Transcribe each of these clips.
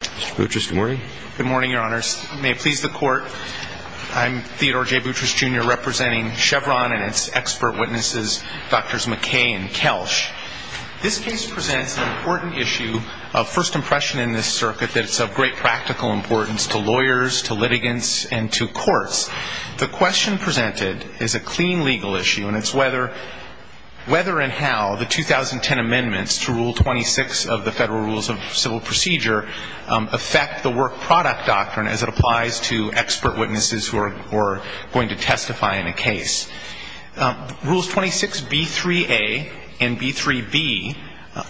Mr. Boutrous, good morning. Good morning, your honors. May it please the court, I'm Theodore J. Boutrous Jr. representing Chevron and its expert witnesses, Drs. Mackay and Kelsch. This case presents an important issue of first impression in this circuit that is of great practical importance to lawyers, to litigants, and to courts. The question presented is a clean legal issue and it's whether and how the 2010 amendments to Rule 26 of the Federal Rules of Civil Procedure affect the work product doctrine as it applies to expert witnesses who are going to testify in a case. Rules 26B3A and B3B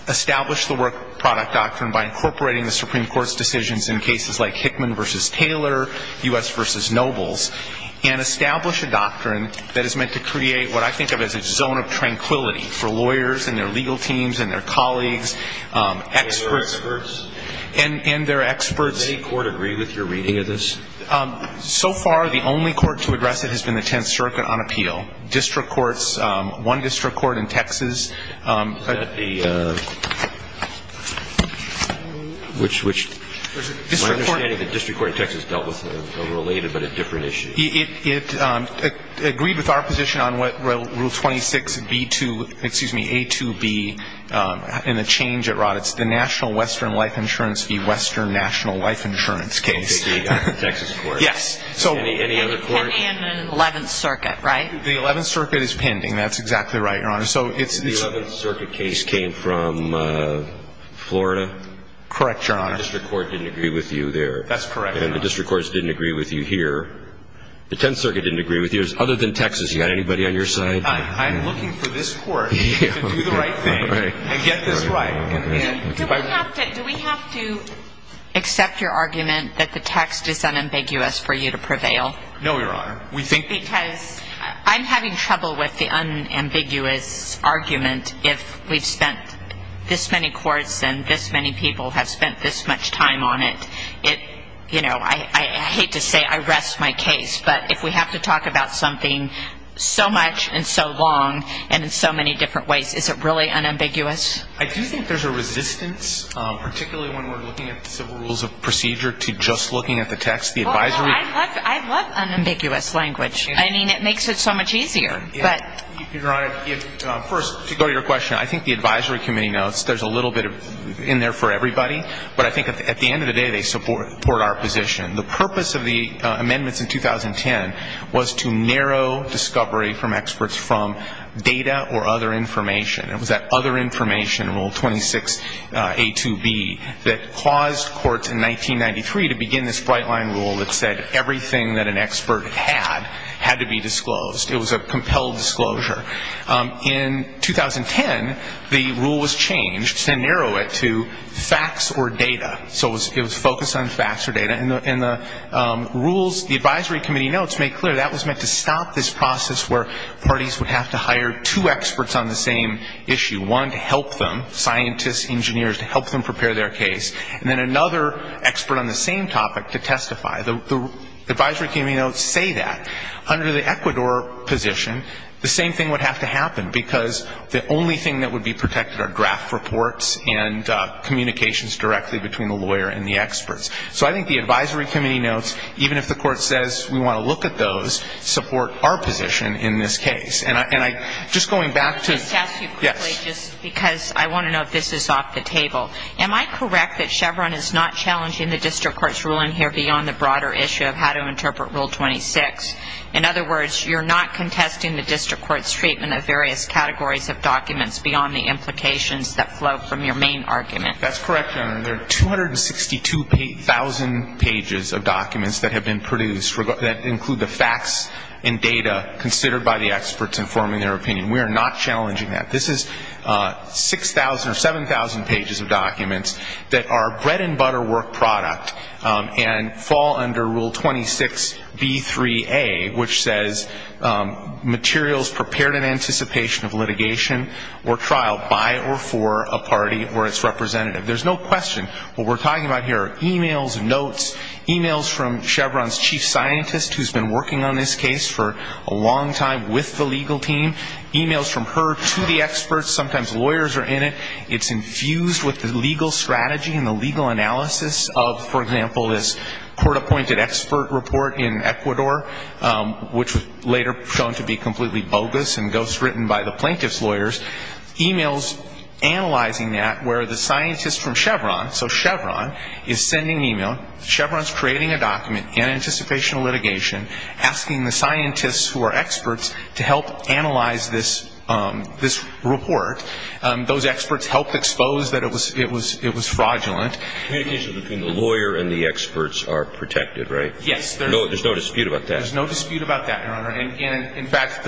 establish the work product doctrine by incorporating the Supreme Court's decisions in cases like Hickman v. Taylor, U.S. v. Nobles, and establish a doctrine that is meant to create what I think of as a zone of tranquility for lawyers and their legal teams and their colleagues, experts. And their experts. Does any court agree with your reading of this? So far, the only court to address it has been the Tenth Circuit on appeal. District courts, one district court in Texas. Is that the, which, which? My understanding is the district court in Texas dealt with a related but a different issue. It agreed with our position on what Rule 26B2, excuse me, A2B and the change it brought. It's the National Western Life Insurance v. Western National Life Insurance case. The Texas court? Yes. Any other court? And the Eleventh Circuit, right? The Eleventh Circuit is pending. That's exactly right, Your Honor. So it's The Eleventh Circuit case came from Florida? Correct, Your Honor. That's correct, Your Honor. And the district courts didn't agree with you here. The Tenth Circuit didn't agree with you. Other than Texas, you got anybody on your side? I'm looking for this court to do the right thing and get this right. Do we have to accept your argument that the text is unambiguous for you to prevail? No, Your Honor. We think I'm having trouble with the unambiguous argument if we've spent this many courts and this many people have spent this much time on it. It, you know, I hate to say I rest my case, but if we have to talk about something so much and so long and in so many different ways, is it really unambiguous? I do think there's a resistance, particularly when we're looking at the Civil Rules of Procedure, to just looking at the text. The advisory I love unambiguous language. I mean, it makes it so much easier. Your Honor, first, to go to your question, I think the advisory committee knows there's a little bit in there for everybody. But I think at the end of the day, they support our position. The purpose of the amendments in 2010 was to narrow discovery from experts from data or other information. It was that other information rule, 26A2B, that caused courts in 1993 to begin this bright line rule that said everything that an expert had had to be disclosed. It was a compelled disclosure. In 2010, the rule was changed to narrow it to facts or data. So it was focused on facts or data. And the rules, the advisory committee notes make clear that was meant to stop this process where parties would have to hire two experts on the same issue. One to help them, scientists, engineers, to help them prepare their case. And then another expert on the same topic to testify. The advisory committee notes say that. Under the Ecuador position, the same thing would have to happen, because the only thing that would be protected are draft reports and communications directly between the lawyer and the experts. So I think the advisory committee notes, even if the court says we want to look at those, support our position in this case. And I'm just going back to ‑‑ Just to ask you quickly, just because I want to know if this is off the table. Am I correct that Chevron is not challenging the district court's ruling here beyond the broader issue of how to interpret Rule 26? In other words, you're not contesting the district court's treatment of various categories of documents beyond the implications that flow from your main argument. That's correct, Your Honor. There are 262,000 pages of documents that have been produced that include the facts and data considered by the experts informing their opinion. We are not challenging that. This is 6,000 or 7,000 pages of documents that are bread and butter work product and fall under Rule 26B3A, which says materials prepared in anticipation of litigation or trial by or for a party or its representative. There's no question what we're talking about here are e‑mails, notes, e‑mails from Chevron's chief scientist, who's been working on this case for a long time with the legal team, e‑mails from her to the experts. Sometimes lawyers are in it. It's infused with the legal strategy and the legal analysis of, for example, this court‑appointed expert report in Ecuador, which was later shown to be completely bogus and ghostwritten by the plaintiff's lawyers, e‑mails analyzing that where the scientist from Chevron, so Chevron, is sending e‑mail, Chevron's creating a document in anticipation of litigation, asking the scientists who are experts to help analyze this report. Those experts helped expose that it was fraudulent. Communication between the lawyer and the experts are protected, right? Yes. There's no dispute about that? There's no dispute about that, Your Honor. In fact,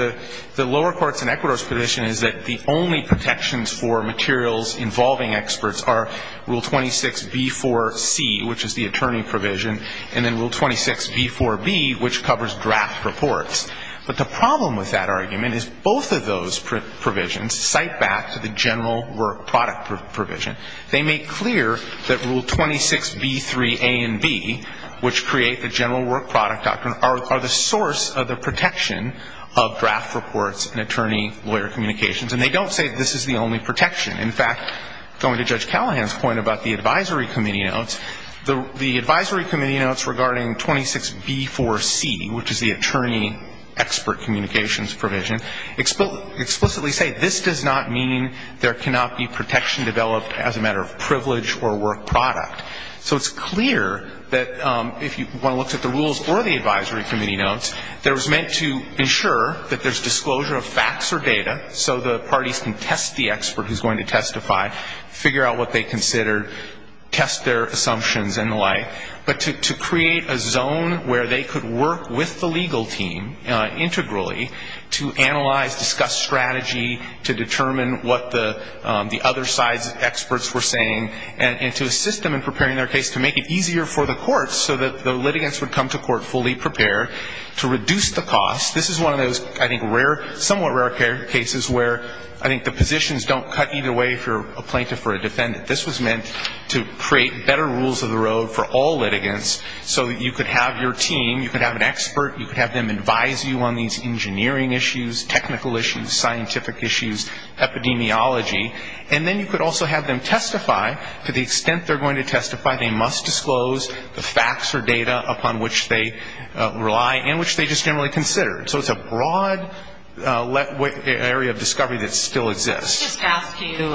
the lower courts in Ecuador's position is that the only protections for materials involving experts are Rule 26B4C, which is the attorney provision, and then Rule 26B4B, which covers draft reports. But the problem with that argument is both of those provisions cite back to the general work product provision. They make clear that Rule 26B3A and B, which create the general work product doctrine, are the source of the protection of draft reports and attorney lawyer communications. And they don't say this is the only protection. In fact, going to Judge Callahan's point about the advisory committee notes, the advisory committee notes regarding 26B4C, which is the attorney expert communications provision, explicitly say this does not mean there cannot be protection developed as a matter of privilege or work product. So it's clear that if you want to look at the rules or the advisory committee notes, that it was meant to ensure that there's disclosure of facts or data so the parties can test the expert who's going to testify, figure out what they considered, test their assumptions and the like. But to create a zone where they could work with the legal team integrally to analyze, discuss strategy, to determine what the other side's experts were saying, and to assist them in preparing their case, to make it easier for the courts so that the litigants would come to court fully prepared, to reduce the cost. This is one of those, I think, rare, somewhat rare cases where I think the positions don't cut either way if you're a plaintiff or a defendant. This was meant to create better rules of the road for all litigants so that you could have your team, you could have an expert, you could have them advise you on these engineering issues, technical issues, scientific issues, epidemiology. And then you could also have them testify to the extent they're going to testify, they must disclose the facts or data upon which they rely and which they just generally considered. So it's a broad area of discovery that still exists. Let me just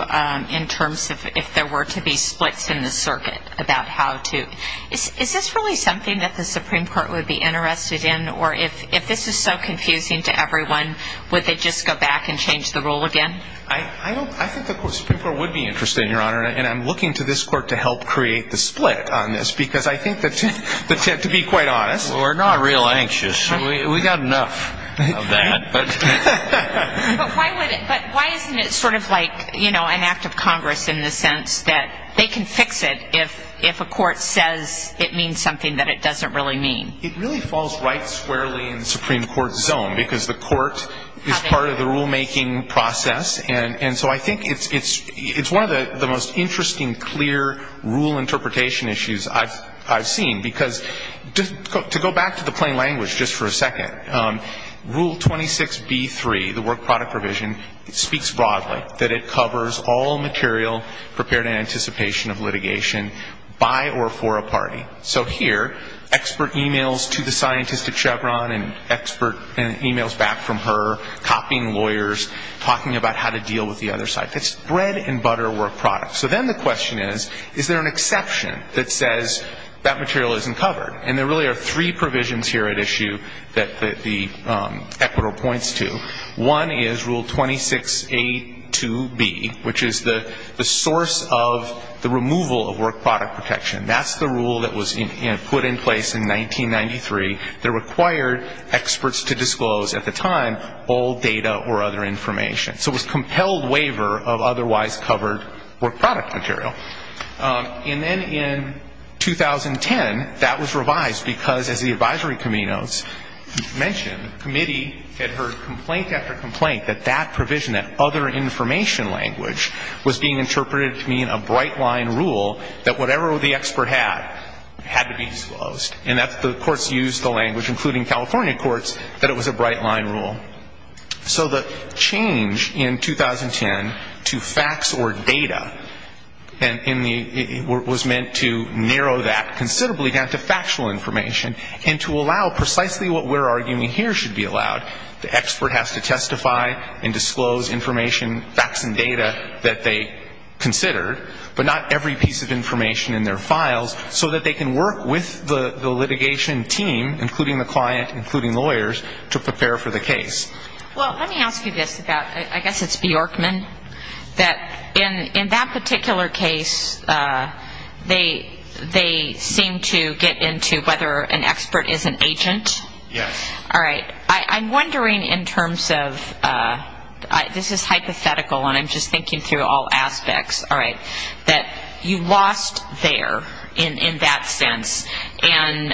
ask you in terms of if there were to be splits in the circuit about how to, is this really something that the Supreme Court would be interested in? Or if this is so confusing to everyone, would they just go back and change the rule again? I think the Supreme Court would be interested, Your Honor, and I'm looking to this court to help create the split on this because I think that, to be quite honest. We're not real anxious. We've got enough of that. But why isn't it sort of like an act of Congress in the sense that they can fix it if a court says it means something that it doesn't really mean? It really falls right squarely in the Supreme Court's zone because the court is part of the rulemaking process. And so I think it's one of the most interesting, clear rule interpretation issues I've seen. Because to go back to the plain language just for a second, Rule 26b-3, the work product provision, speaks broadly that it covers all material prepared in anticipation of litigation by or for a party. So here, expert e-mails to the scientist at Chevron and expert e-mails back from her, copying lawyers, talking about how to deal with the other side. That's bread and butter work product. So then the question is, is there an exception that says that material isn't covered? And there really are three provisions here at issue that the Equator points to. One is Rule 26a-2b, which is the source of the removal of work product protection. That's the rule that was put in place in 1993 that required experts to disclose, at the time, all data or other information. So it was a compelled waiver of otherwise covered work product material. And then in 2010, that was revised because, as the advisory committee notes, mentioned, the committee had heard complaint after complaint that that provision, that other information language, was being interpreted to mean a bright-line rule that whatever the expert had, had to be disclosed. And the courts used the language, including California courts, that it was a bright-line rule. So the change in 2010 to facts or data was meant to narrow that considerably down to factual information and to allow precisely what we're arguing here should be allowed. The expert has to testify and disclose information, facts and data that they considered, but not every piece of information in their files, so that they can work with the litigation team, including the client, including lawyers, to prepare for the case. Well, let me ask you this about, I guess it's Bjorkman, that in that particular case, they seem to get into whether an expert is an agent. Yes. All right. I'm wondering in terms of, this is hypothetical, and I'm just thinking through all aspects. All right. That you lost there, in that sense. And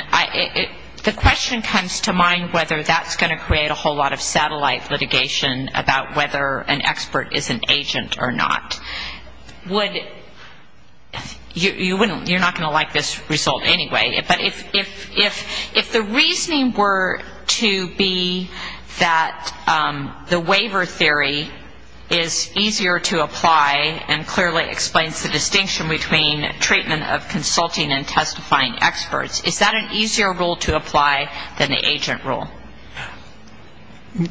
the question comes to mind whether that's going to create a whole lot of satellite litigation about whether an expert is an agent or not. You're not going to like this result anyway. But if the reasoning were to be that the waiver theory is easier to apply and clearly explains the distinction between treatment of consulting and testifying experts, is that an easier rule to apply than the agent rule?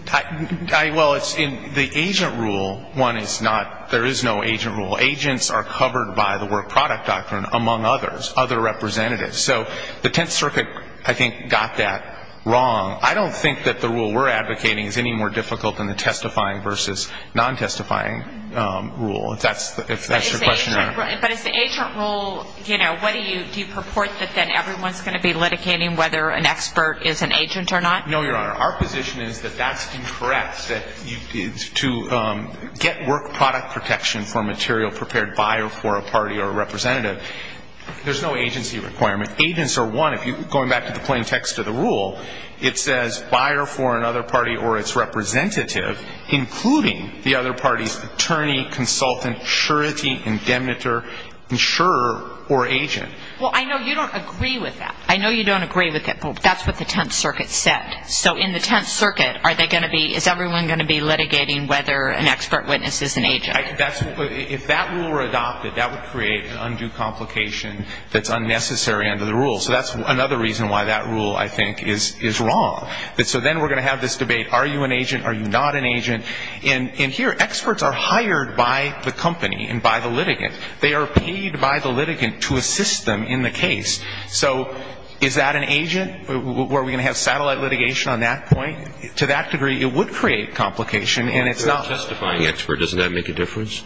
Well, in the agent rule, one is not, there is no agent rule. Agents are covered by the work product doctrine, among others, other representatives. So the Tenth Circuit, I think, got that wrong. I don't think that the rule we're advocating is any more difficult than the testifying versus non-testifying rule, if that's your question, Your Honor. But is the agent rule, you know, what do you, do you purport that then everyone's going to be litigating whether an expert is an agent or not? No, Your Honor. Our position is that that's incorrect, that to get work product protection for a material prepared by or for a party or a representative, there's no agency requirement. Agents are one, going back to the plain text of the rule, it says buyer for another party or its representative, including the other party's attorney, consultant, surety, indemniter, insurer, or agent. Well, I know you don't agree with that. I know you don't agree with it, but that's what the Tenth Circuit said. So in the Tenth Circuit, are they going to be, if that rule were adopted, that would create an undue complication that's unnecessary under the rule. So that's another reason why that rule, I think, is wrong. So then we're going to have this debate, are you an agent, are you not an agent? And here, experts are hired by the company and by the litigant. They are paid by the litigant to assist them in the case. So is that an agent? Were we going to have satellite litigation on that point? To that degree, it would create complication, and it's not. If you're a testifying expert, doesn't that make a difference?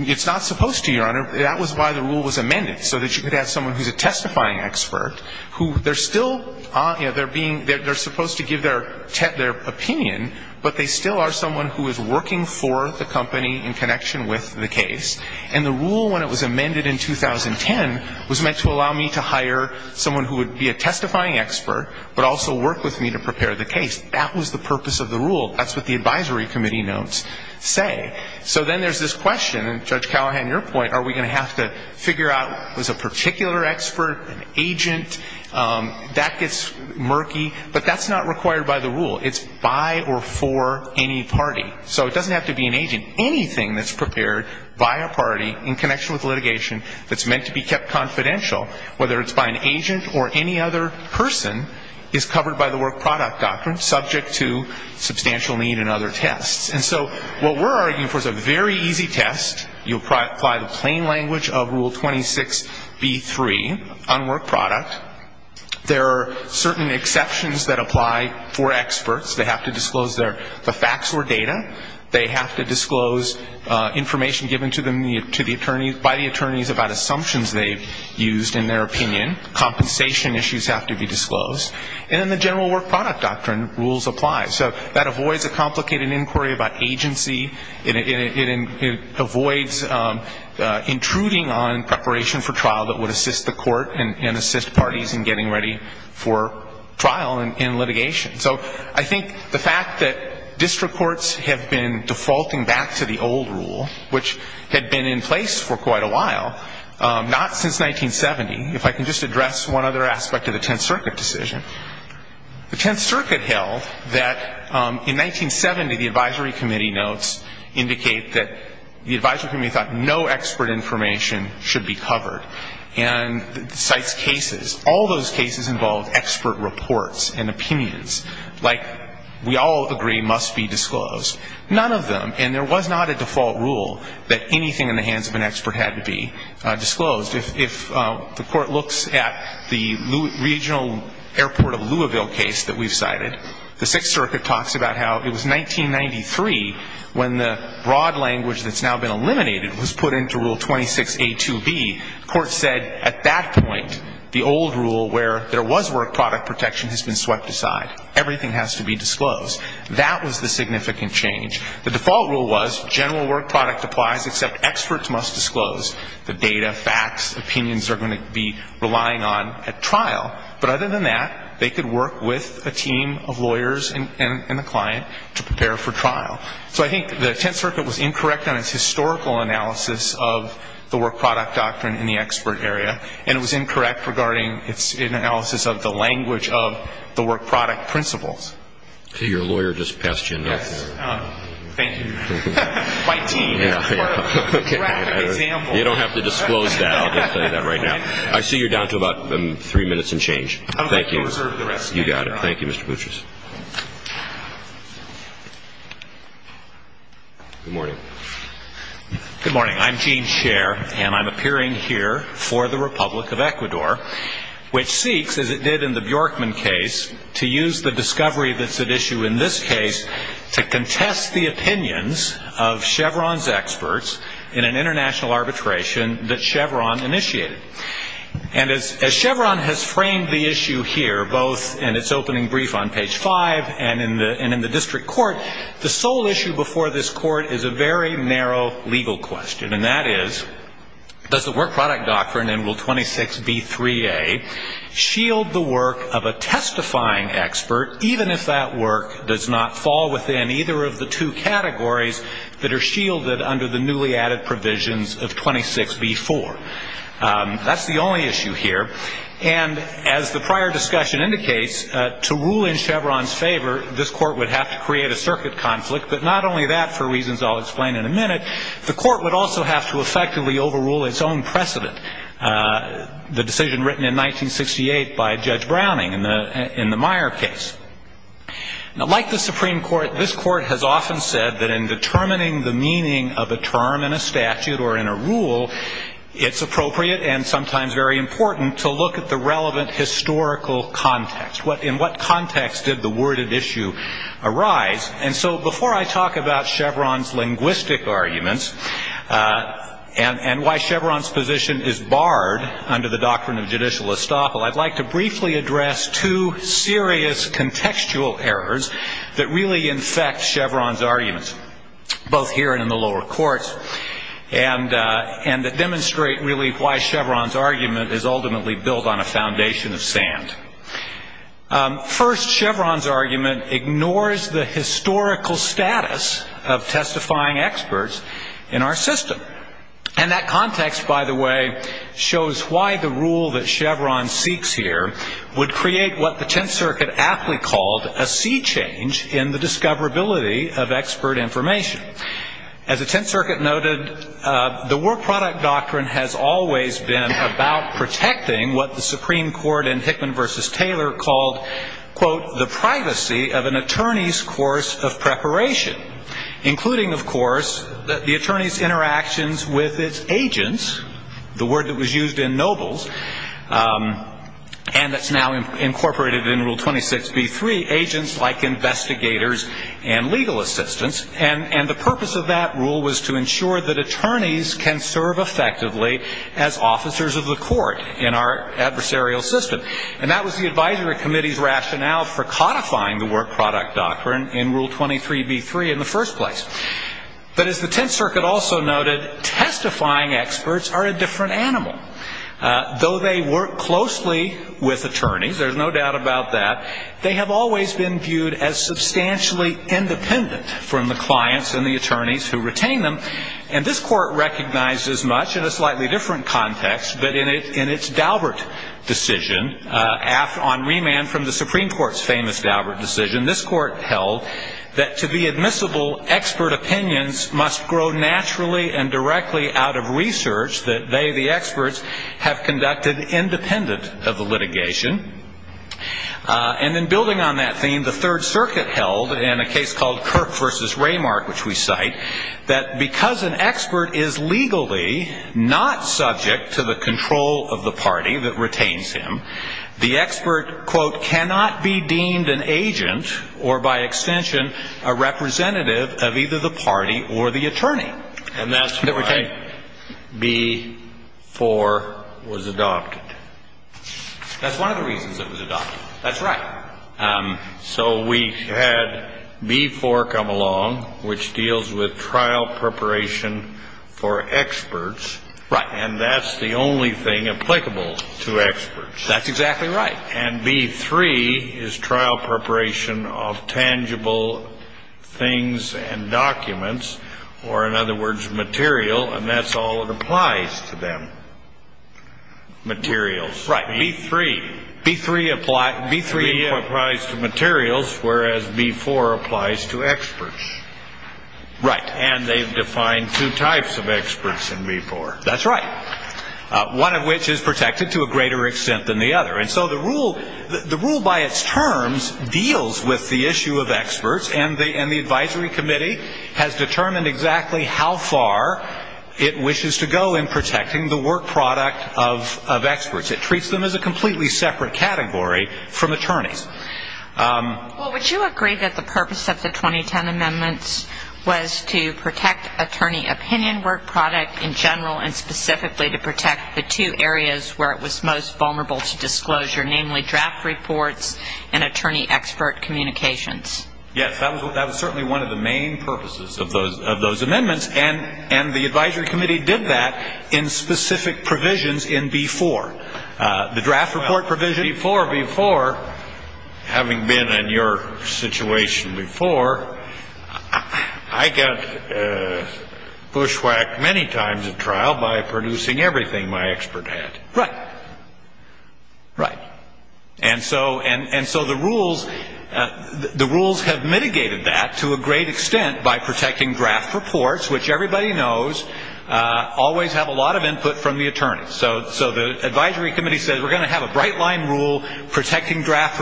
It's not supposed to, Your Honor. That was why the rule was amended, so that you could have someone who's a testifying expert, who they're still, you know, they're being, they're supposed to give their opinion, but they still are someone who is working for the company in connection with the case. And the rule, when it was amended in 2010, was meant to allow me to hire someone who would be a testifying expert, but also work with me to prepare the case. That was the purpose of the rule. That's what the advisory committee notes say. So then there's this question, and Judge Callahan, your point, are we going to have to figure out who's a particular expert, an agent? That gets murky, but that's not required by the rule. It's by or for any party. So it doesn't have to be an agent. Anything that's prepared by a party in connection with litigation that's meant to be kept confidential, whether it's by an agent or any other person, is covered by the work product doctrine, subject to substantial need and other tests. And so what we're arguing for is a very easy test. You apply the plain language of Rule 26b-3 on work product. There are certain exceptions that apply for experts. They have to disclose the facts or data. They have to disclose information given to them by the attorneys about assumptions they've used in their opinion. Compensation issues have to be disclosed. And then the general work product doctrine rules apply. So that avoids a complicated inquiry about agency. It avoids intruding on preparation for trial that would assist the court and assist parties in getting ready for trial and litigation. So I think the fact that district courts have been defaulting back to the old rule, which had been in place for quite a while, not since 1970. If I can just address one other aspect of the Tenth Circuit decision. The Tenth Circuit held that in 1970, the advisory committee notes indicate that the advisory committee thought no expert information should be covered. And the site's cases, all those cases involved expert reports and opinions, like we all agree must be disclosed. None of them, and there was not a default rule that anything in the hands of an expert had to be disclosed. If the court looks at the regional airport of Louisville case that we've cited, the Sixth Circuit talks about how it was 1993 when the broad language that's now been eliminated was put into Rule 26A2B. The court said at that point, the old rule where there was work product protection has been swept aside. Everything has to be disclosed. That was the significant change. The default rule was general work product applies except experts must disclose. The data, facts, opinions are going to be relying on at trial. But other than that, they could work with a team of lawyers and the client to prepare for trial. So I think the Tenth Circuit was incorrect on its historical analysis of the work product doctrine in the expert area. And it was incorrect regarding its analysis of the language of the work product principles. Your lawyer just passed you a note there. Thank you. You don't have to disclose that. I'll just tell you that right now. I see you're down to about three minutes and change. Thank you. You got it. Thank you, Mr. Boucher. Good morning. Good morning. I'm Gene Scher, and I'm appearing here for the Republic of Ecuador, which seeks, as it did in the Bjorkman case, to use the discovery that's at issue in this case to contest the opinions of Chevron's experts in an international arbitration that Chevron initiated. And as Chevron has framed the issue here, both in its opening brief on page 5 and in the district court, the sole issue before this court is a very narrow legal question, and that is does the work product doctrine in Rule 26B3A shield the work of a testifying expert, even if that work does not fall within either of the two categories that are shielded under the newly added provisions of 26B4? That's the only issue here. And as the prior discussion indicates, to rule in Chevron's favor, this court would have to create a circuit conflict. But not only that, for reasons I'll explain in a minute, the court would also have to effectively overrule its own precedent, the decision written in 1968 by Judge Browning in the Meyer case. Now, like the Supreme Court, this court has often said that in determining the meaning of a term in a statute or in a rule, it's appropriate and sometimes very important to look at the relevant historical context. In what context did the worded issue arise? And so before I talk about Chevron's linguistic arguments and why Chevron's position is barred under the doctrine of judicial estoppel, I'd like to briefly address two serious contextual errors that really infect Chevron's arguments, both here and in the lower courts, and that demonstrate really why Chevron's argument is ultimately built on a foundation of sand. First, Chevron's argument ignores the historical status of testifying experts in our system. And that context, by the way, shows why the rule that Chevron seeks here would create what the Tenth Circuit aptly called a sea change in the discoverability of expert information. As the Tenth Circuit noted, the War Product Doctrine has always been about protecting what the Supreme Court in Hickman v. Taylor called, quote, the privacy of an attorney's course of preparation, including, of course, the attorney's interactions with its agents, the word that was used in Nobles, and that's now incorporated in Rule 26b-3, agents like investigators and legal assistants, and the purpose of that rule was to ensure that attorneys can serve effectively as officers of the court in our adversarial system. And that was the Advisory Committee's rationale for codifying the War Product Doctrine in Rule 23b-3 in the first place. But as the Tenth Circuit also noted, testifying experts are a different animal. Though they work closely with attorneys, there's no doubt about that, they have always been viewed as substantially independent from the clients and the attorneys who retain them, and this court recognizes much in a slightly different context, but in its Daubert decision, on remand from the Supreme Court's famous Daubert decision, this court held that to be admissible, expert opinions must grow naturally and directly out of research that they, the experts, have conducted independent of the litigation, and in building on that theme, the Third Circuit held in a case called Kirk v. Raymark, which we cite, that because an expert is legally not subject to the control of the party that retains him, the expert, quote, cannot be deemed an agent or, by extension, a representative of either the party or the attorney. And that's why B-4 was adopted. That's one of the reasons it was adopted. That's right. So we had B-4 come along, which deals with trial preparation for experts. Right. And that's the only thing applicable to experts. That's exactly right. And B-3 is trial preparation of tangible things and documents, or, in other words, material, and that's all that applies to them, materials. Right. B-3 applies to materials, whereas B-4 applies to experts. Right. And they've defined two types of experts in B-4. That's right, one of which is protected to a greater extent than the other. And so the rule by its terms deals with the issue of experts, and the advisory committee has determined exactly how far it wishes to go in protecting the work product of experts. It treats them as a completely separate category from attorneys. Well, would you agree that the purpose of the 2010 amendments was to protect attorney opinion, and specifically to protect the two areas where it was most vulnerable to disclosure, namely draft reports and attorney expert communications? Yes, that was certainly one of the main purposes of those amendments, and the advisory committee did that in specific provisions in B-4. The draft report provision in B-4, having been in your situation before, I got bushwhacked many times in trial by producing everything my expert had. Right. Right. And so the rules have mitigated that to a great extent by protecting draft reports, which everybody knows always have a lot of input from the attorneys. So the advisory committee says we're going to have a bright line rule protecting draft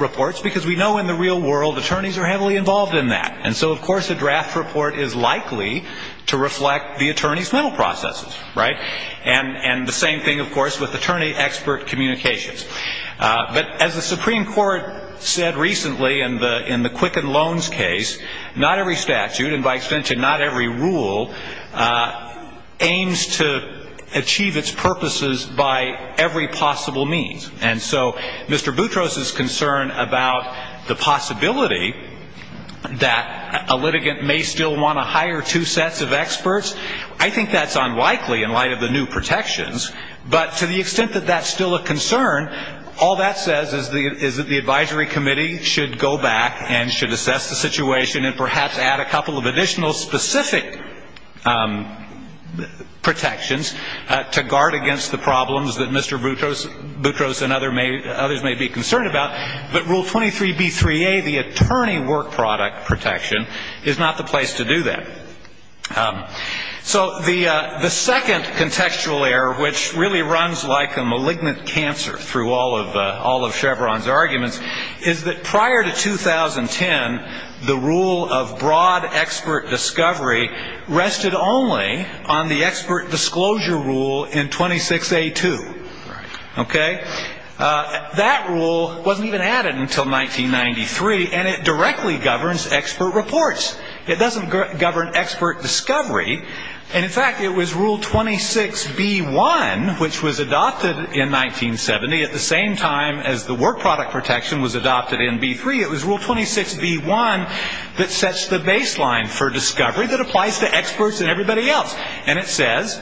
reports because we know in the real world attorneys are heavily involved in that. And so, of course, a draft report is likely to reflect the attorney's mental processes. Right. And the same thing, of course, with attorney expert communications. But as the Supreme Court said recently in the Quicken Loans case, not every statute and by extension not every rule aims to achieve its purposes by every possible means. And so Mr. Boutros' concern about the possibility that a litigant may still want to hire two sets of experts, I think that's unlikely in light of the new protections. But to the extent that that's still a concern, all that says is that the advisory committee should go back and should assess the situation and perhaps add a couple of additional specific protections to guard against the problems that Mr. Boutros and others may be concerned about. But Rule 23B3A, the attorney work product protection, is not the place to do that. So the second contextual error, which really runs like a malignant cancer through all of Chevron's arguments, is that prior to 2010, the rule of broad expert discovery rested only on the expert disclosure rule in 26A2. Okay? That rule wasn't even added until 1993, and it directly governs expert reports. It doesn't govern expert discovery. And, in fact, it was Rule 26B1, which was adopted in 1970 at the same time as the work product protection was adopted in B3. It was Rule 26B1 that sets the baseline for discovery that applies to experts and everybody else. And it says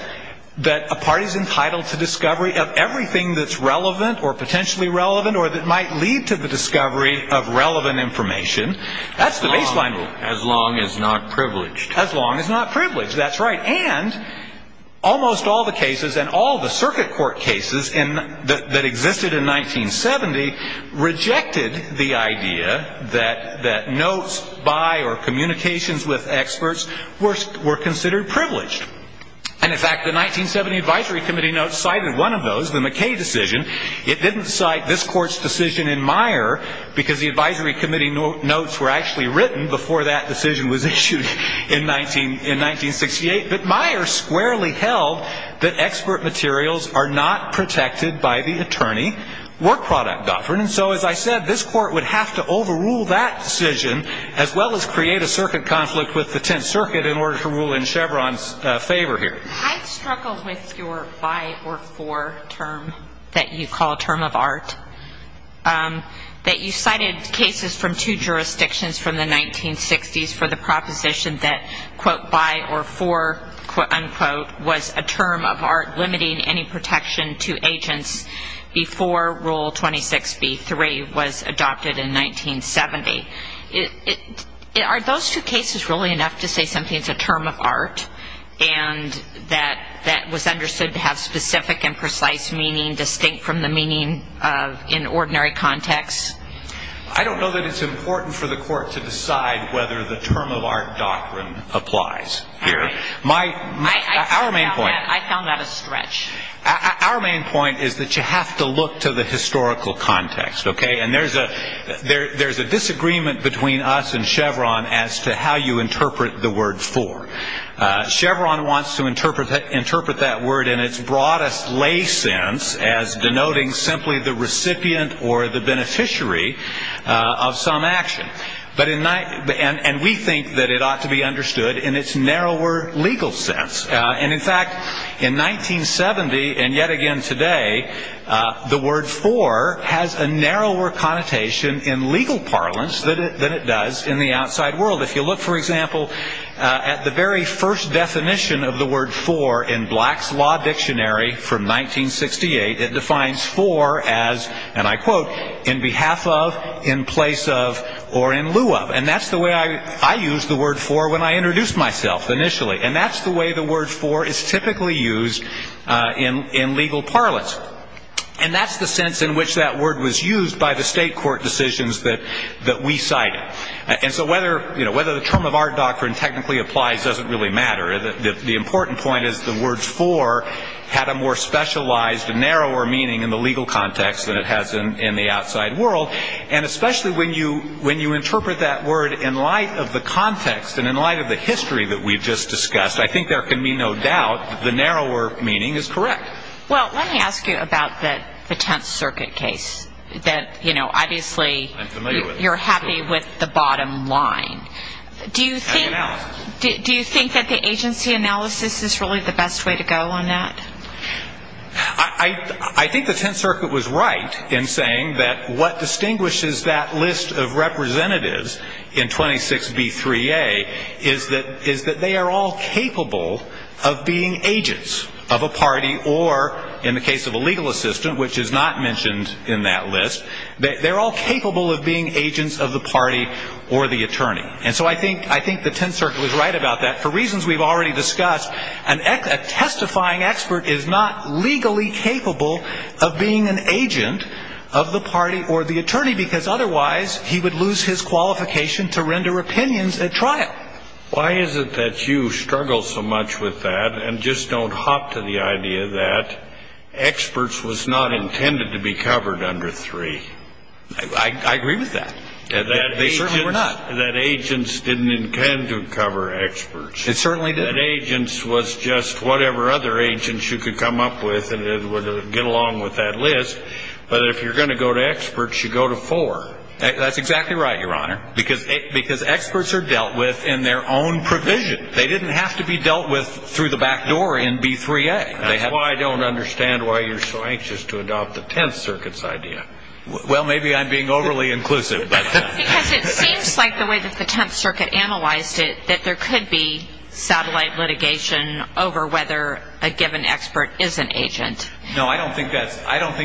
that a party is entitled to discovery of everything that's relevant or potentially relevant or that might lead to the discovery of relevant information. That's the baseline rule. As long as not privileged. As long as not privileged. That's right. And almost all the cases and all the circuit court cases that existed in 1970 rejected the idea that notes by or communications with experts were considered privileged. And, in fact, the 1970 advisory committee notes cited one of those, the McKay decision. It didn't cite this court's decision in Meyer because the advisory committee notes were actually written before that decision was issued in 1968. But Meyer squarely held that expert materials are not protected by the attorney work product government. And so, as I said, this court would have to overrule that decision as well as create a circuit conflict with the Tenth Circuit in order to rule in Chevron's favor here. I struggle with your by or for term that you call a term of art. That you cited cases from two jurisdictions from the 1960s for the proposition that, quote, by or for, unquote, was a term of art limiting any protection to agents before Rule 26B3 was adopted in 1970. Are those two cases really enough to say something is a term of art? And that was understood to have specific and precise meaning distinct from the meaning in ordinary context? I don't know that it's important for the court to decide whether the term of art doctrine applies here. I found that a stretch. Our main point is that you have to look to the historical context, okay? And there's a disagreement between us and Chevron as to how you interpret the word for. Chevron wants to interpret that word in its broadest lay sense as denoting simply the recipient or the beneficiary of some action. And we think that it ought to be understood in its narrower legal sense. And, in fact, in 1970 and yet again today, the word for has a narrower connotation in legal parlance than it does in the outside world. If you look, for example, at the very first definition of the word for in Black's Law Dictionary from 1968, it defines for as, and I quote, in behalf of, in place of, or in lieu of. And that's the way I used the word for when I introduced myself initially. And that's the way the word for is typically used in legal parlance. And that's the sense in which that word was used by the state court decisions that we cited. And so whether the term of our doctrine technically applies doesn't really matter. The important point is the word for had a more specialized, narrower meaning in the legal context than it has in the outside world. And especially when you interpret that word in light of the context and in light of the history that we've just discussed, I think there can be no doubt that the narrower meaning is correct. Well, let me ask you about the Tenth Circuit case that, you know, obviously you're happy with the bottom line. Do you think that the agency analysis is really the best way to go on that? I think the Tenth Circuit was right in saying that what distinguishes that list of representatives in 26B3A is that they are all capable of being agents of a party or, in the case of a legal assistant, which is not mentioned in that list, they're all capable of being agents of the party or the attorney. And so I think the Tenth Circuit was right about that. For reasons we've already discussed, a testifying expert is not legally capable of being an agent of the party or the attorney because otherwise he would lose his qualification to render opinions at trial. Why is it that you struggle so much with that and just don't hop to the idea that experts was not intended to be covered under 3? I agree with that. They certainly were not. That agents didn't intend to cover experts. It certainly didn't. That agents was just whatever other agents you could come up with and it would get along with that list. But if you're going to go to experts, you go to 4. That's exactly right, Your Honor, because experts are dealt with in their own provision. They didn't have to be dealt with through the back door in B3A. That's why I don't understand why you're so anxious to adopt the Tenth Circuit's idea. Well, maybe I'm being overly inclusive. Because it seems like the way that the Tenth Circuit analyzed it, that there could be satellite litigation over whether a given expert is an agent. No, I don't think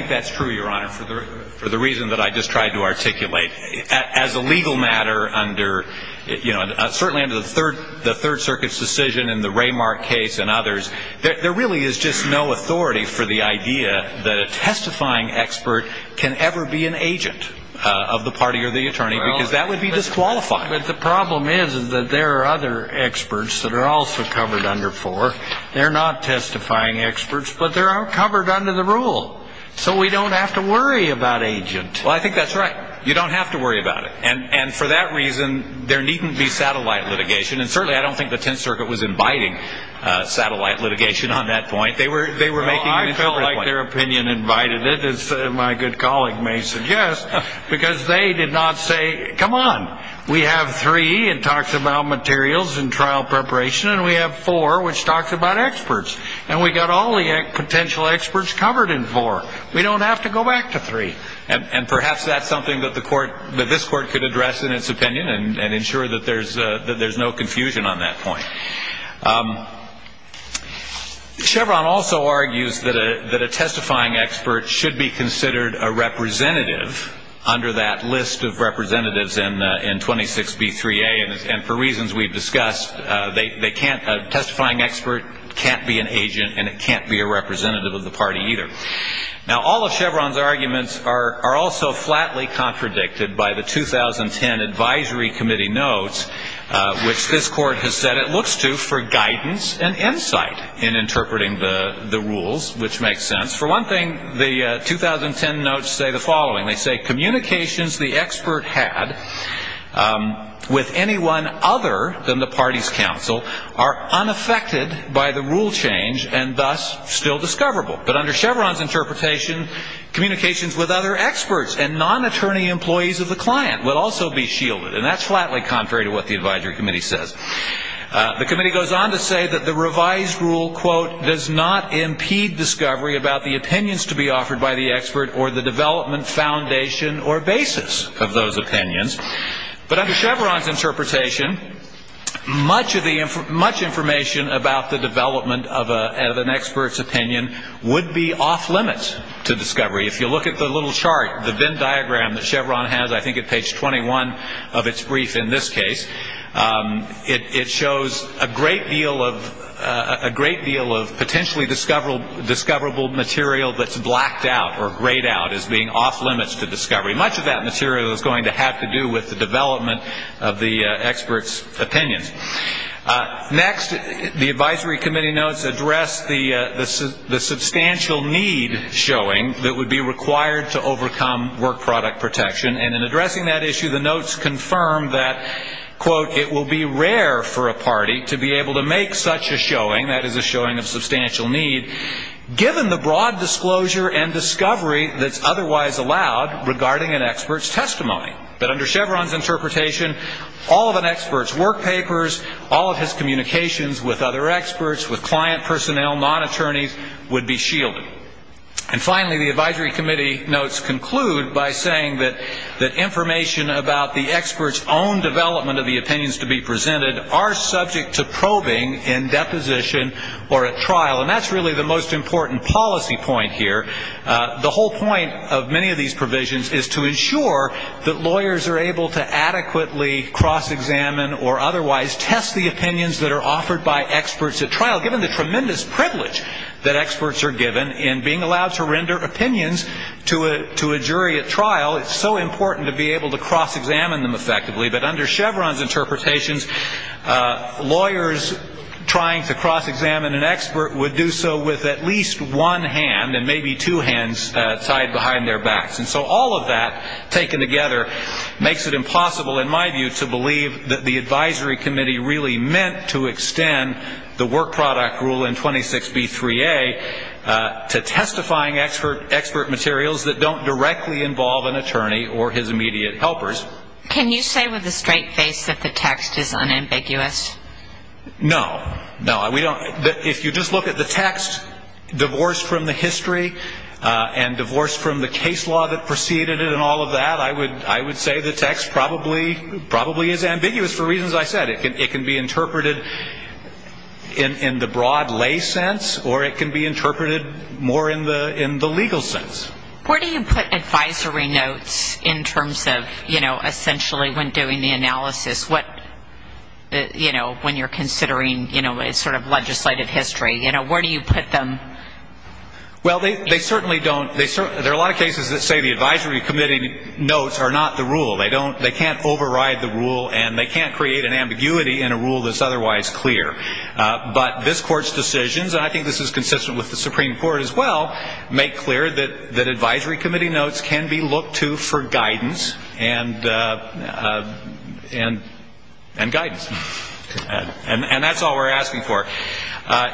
that's true, Your Honor, for the reason that I just tried to articulate. As a legal matter under, you know, certainly under the Third Circuit's decision and the Raymark case and others, there really is just no authority for the idea that a testifying expert can ever be an agent of the party or the attorney because that would be disqualifying. But the problem is that there are other experts that are also covered under 4. They're not testifying experts, but they're covered under the rule. So we don't have to worry about agent. Well, I think that's right. You don't have to worry about it. And for that reason, there needn't be satellite litigation. And certainly I don't think the Tenth Circuit was inviting satellite litigation on that point. They were making an issue at that point. Well, I felt like their opinion invited it, as my good colleague may suggest, because they did not say, Come on. We have 3. It talks about materials and trial preparation. And we have 4, which talks about experts. And we've got all the potential experts covered in 4. We don't have to go back to 3. And perhaps that's something that this Court could address in its opinion and ensure that there's no confusion on that point. Chevron also argues that a testifying expert should be considered a representative under that list of representatives in 26B3A. And for reasons we've discussed, a testifying expert can't be an agent, and it can't be a representative of the party either. Now, all of Chevron's arguments are also flatly contradicted by the 2010 Advisory Committee notes, which this Court has said it looks to for guidance and insight in interpreting the rules, which makes sense. For one thing, the 2010 notes say the following. They say communications the expert had with anyone other than the party's counsel are unaffected by the rule change and thus still discoverable. But under Chevron's interpretation, communications with other experts and non-attorney employees of the client will also be shielded. And that's flatly contrary to what the Advisory Committee says. basis of those opinions. But under Chevron's interpretation, much information about the development of an expert's opinion would be off-limits to discovery. If you look at the little chart, the Venn diagram that Chevron has, I think at page 21 of its brief in this case, it shows a great deal of potentially discoverable material that's blacked out or grayed out as being off-limits to discovery. Much of that material is going to have to do with the development of the expert's opinions. Next, the Advisory Committee notes address the substantial need showing that would be required to overcome work product protection. And in addressing that issue, the notes confirm that, quote, it will be rare for a party to be able to make such a showing, that is a showing of substantial need, given the broad disclosure and discovery that's otherwise allowed regarding an expert's testimony. But under Chevron's interpretation, all of an expert's work papers, all of his communications with other experts, with client personnel, non-attorneys, would be shielded. And finally, the Advisory Committee notes conclude by saying that information about the expert's own development of the opinions to be presented are subject to probing in deposition or at trial. And that's really the most important policy point here. The whole point of many of these provisions is to ensure that lawyers are able to adequately cross-examine or otherwise test the opinions that are offered by experts at trial, given the tremendous privilege that experts are given in being allowed to render opinions to a jury at trial. It's so important to be able to cross-examine them effectively. But under Chevron's interpretations, lawyers trying to cross-examine an expert would do so with at least one hand and maybe two hands tied behind their backs. And so all of that taken together makes it impossible, in my view, to believe that the Advisory Committee really meant to extend the work product rule in 26B3A to testifying expert materials that don't directly involve an attorney or his immediate helpers. Can you say with a straight face that the text is unambiguous? No. No, we don't. If you just look at the text, divorce from the history and divorce from the case law that preceded it and all of that, I would say the text probably is ambiguous for reasons I said. It can be interpreted in the broad lay sense or it can be interpreted more in the legal sense. Where do you put advisory notes in terms of, you know, essentially when doing the analysis? What, you know, when you're considering, you know, sort of legislative history, you know, where do you put them? Well, they certainly don't. There are a lot of cases that say the Advisory Committee notes are not the rule. They can't override the rule and they can't create an ambiguity in a rule that's otherwise clear. But this Court's decisions, and I think this is consistent with the Supreme Court as well, make clear that Advisory Committee notes can be looked to for guidance and guidance. And that's all we're asking for.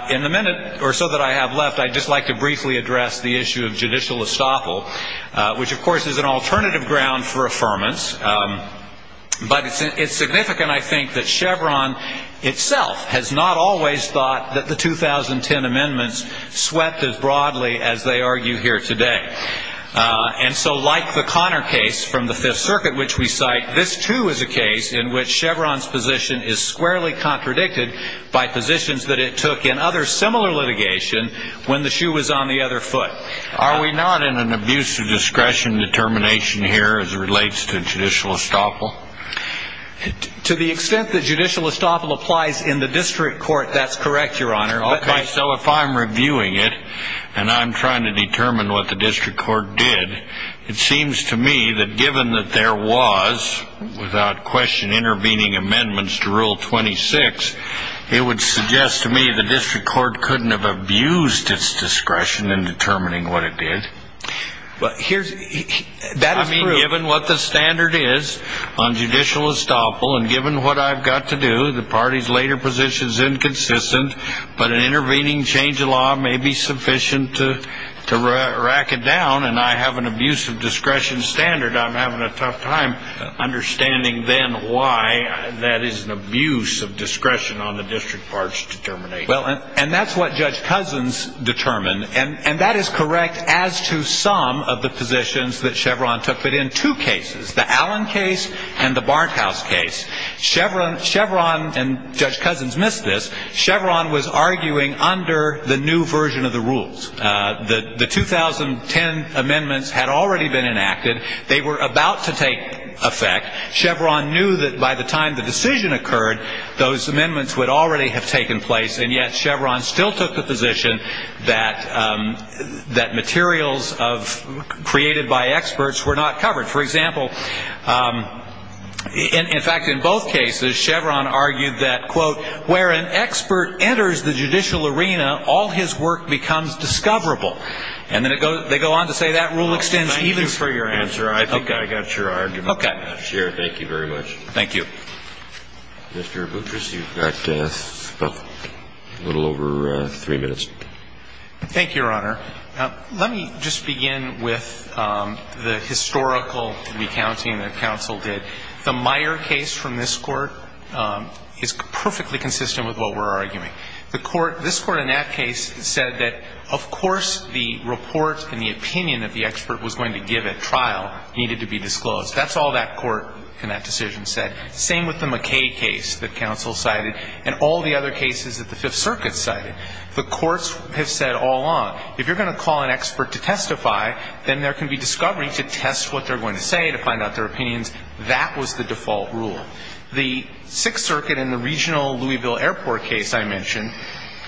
In the minute or so that I have left, I'd just like to briefly address the issue of judicial estoppel, which, of course, is an alternative ground for affirmance. But it's significant, I think, that Chevron itself has not always thought that the 2010 amendments swept as broadly as they argue here today. And so like the Connor case from the Fifth Circuit, which we cite, this, too, is a case in which Chevron's position is squarely contradicted by positions that it took in other similar litigation when the shoe was on the other foot. Are we not in an abuse of discretion determination here as it relates to judicial estoppel? To the extent that judicial estoppel applies in the district court, that's correct, Your Honor. So if I'm reviewing it and I'm trying to determine what the district court did, it seems to me that given that there was, without question, intervening amendments to Rule 26, it would suggest to me the district court couldn't have abused its discretion in determining what it did. I mean, given what the standard is on judicial estoppel, and given what I've got to do, the party's later position is inconsistent, but an intervening change of law may be sufficient to rack it down. And I have an abuse of discretion standard. I'm having a tough time understanding then why that is an abuse of discretion on the district court's determination. Well, and that's what Judge Cousins determined. And that is correct as to some of the positions that Chevron took. But in two cases, the Allen case and the Barkhouse case, Chevron and Judge Cousins missed this. Chevron was arguing under the new version of the rules. The 2010 amendments had already been enacted. They were about to take effect. Chevron knew that by the time the decision occurred, those amendments would already have taken place, and yet Chevron still took the position that materials created by experts were not covered. For example, in fact, in both cases, Chevron argued that, quote, where an expert enters the judicial arena, all his work becomes discoverable. And then they go on to say that rule extends even further. Thank you for your answer. I think I got your argument. Okay. Thank you very much. Thank you. Mr. Boutrous, you've got a little over three minutes. Thank you, Your Honor. Let me just begin with the historical recounting that counsel did. The Meyer case from this Court is perfectly consistent with what we're arguing. The Court, this Court in that case said that, of course, the report and the opinion that the expert was going to give at trial needed to be disclosed. That's all that Court in that decision said. Same with the McKay case that counsel cited and all the other cases that the Fifth Circuit cited. The Courts have said all along, if you're going to call an expert to testify, then there can be discovery to test what they're going to say, to find out their opinions. That was the default rule. The Sixth Circuit in the regional Louisville Airport case I mentioned,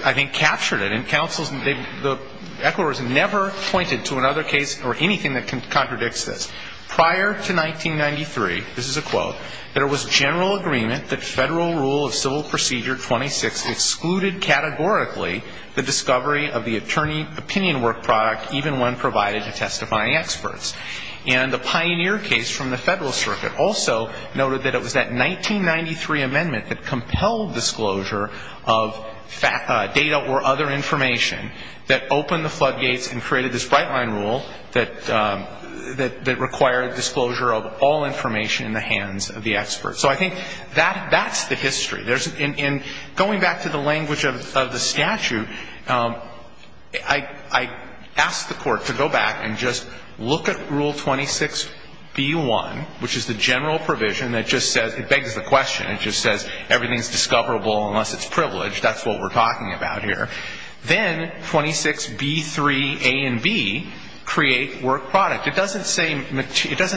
I think, captured it. And counsels, the echoers never pointed to another case or anything that contradicts this. Prior to 1993, this is a quote, And the Pioneer case from the Federal Circuit also noted that it was that 1993 amendment that compelled disclosure of data or other information, that opened the floodgates and created this bright-line rule that required disclosure of all information in the hands of the public. that compelled disclosure of data or other information, So I think that's the history. In going back to the language of the statute, I ask the Court to go back and just look at Rule 26b-1, which is the general provision that just says, it begs the question, it just says everything's discoverable unless it's privileged. That's what we're talking about here. Then 26b-3a and b create work product. It doesn't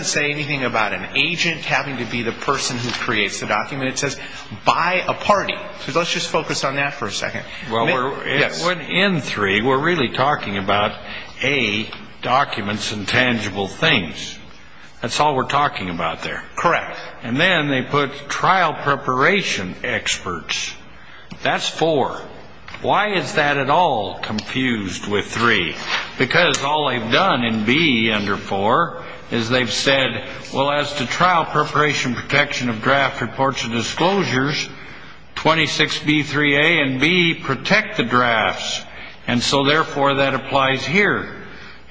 say anything about an agent having to be the person who creates the document. It says, by a party. So let's just focus on that for a second. Well, in 3, we're really talking about, a, documents and tangible things. That's all we're talking about there. Correct. And then they put trial preparation experts. That's 4. Why is that at all confused with 3? Because all they've done in b under 4 is they've said, well, as to trial preparation protection of draft reports and disclosures, 26b-3a and b protect the drafts. And so, therefore, that applies here.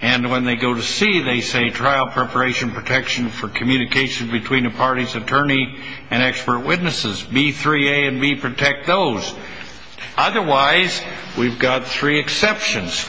And when they go to c, they say trial preparation protection for communication between a party's attorney and expert witnesses. b-3a and b protect those. Otherwise, we've got three exceptions.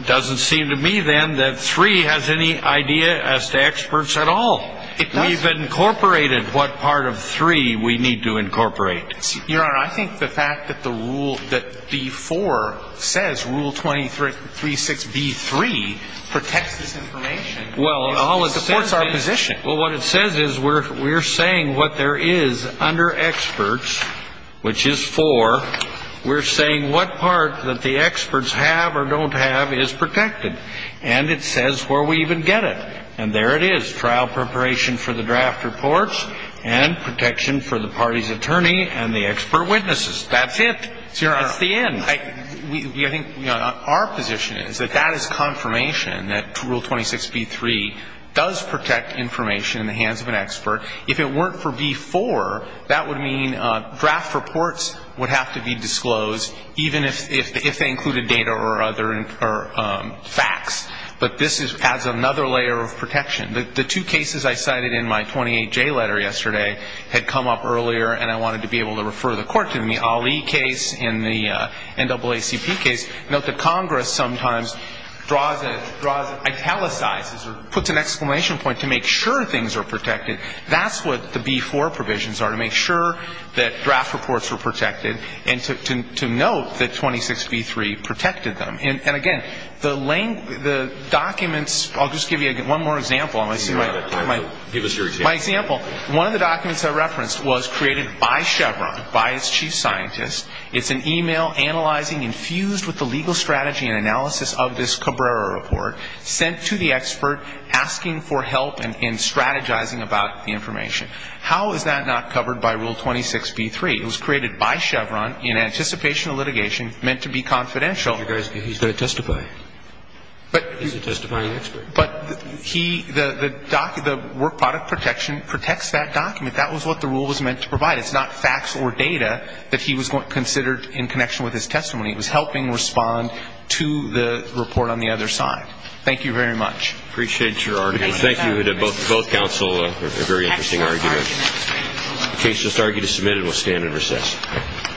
It doesn't seem to me, then, that 3 has any idea as to experts at all. It doesn't. We've incorporated what part of 3 we need to incorporate. Your Honor, I think the fact that b-4 says rule 236b-3 protects this information supports our position. Well, what it says is we're saying what there is under experts, which is 4, we're saying what part that the experts have or don't have is protected. And it says where we even get it. And there it is, trial preparation for the draft reports and protection for the party's attorney and the expert witnesses. That's it. That's the end. I think our position is that that is confirmation that rule 26b-3 does protect information in the hands of an expert. If it weren't for b-4, that would mean draft reports would have to be disclosed, even if they included data or other facts. But this adds another layer of protection. The two cases I cited in my 28J letter yesterday had come up earlier, and I wanted to be able to refer the Court to them, the Ali case and the NAACP case. Note that Congress sometimes draws and italicizes or puts an exclamation point to make sure things are protected. That's what the b-4 provisions are, to make sure that draft reports are protected and to note that 26b-3 protected them. And, again, the documents, I'll just give you one more example. Give us your example. My example, one of the documents I referenced was created by Chevron, by its chief scientist. It's an e-mail analyzing and fused with the legal strategy and analysis of this Cabrera report, sent to the expert asking for help and strategizing about the information. How is that not covered by rule 26b-3? It was created by Chevron in anticipation of litigation, meant to be confidential. He's going to testify. He's a testifying expert. But he, the work product protection protects that document. That was what the rule was meant to provide. It's not facts or data that he was considered in connection with his testimony. It was helping respond to the report on the other side. Thank you very much. Appreciate your argument. Thank you. Both counsel, a very interesting argument. The case is submitted. We'll stand and recess.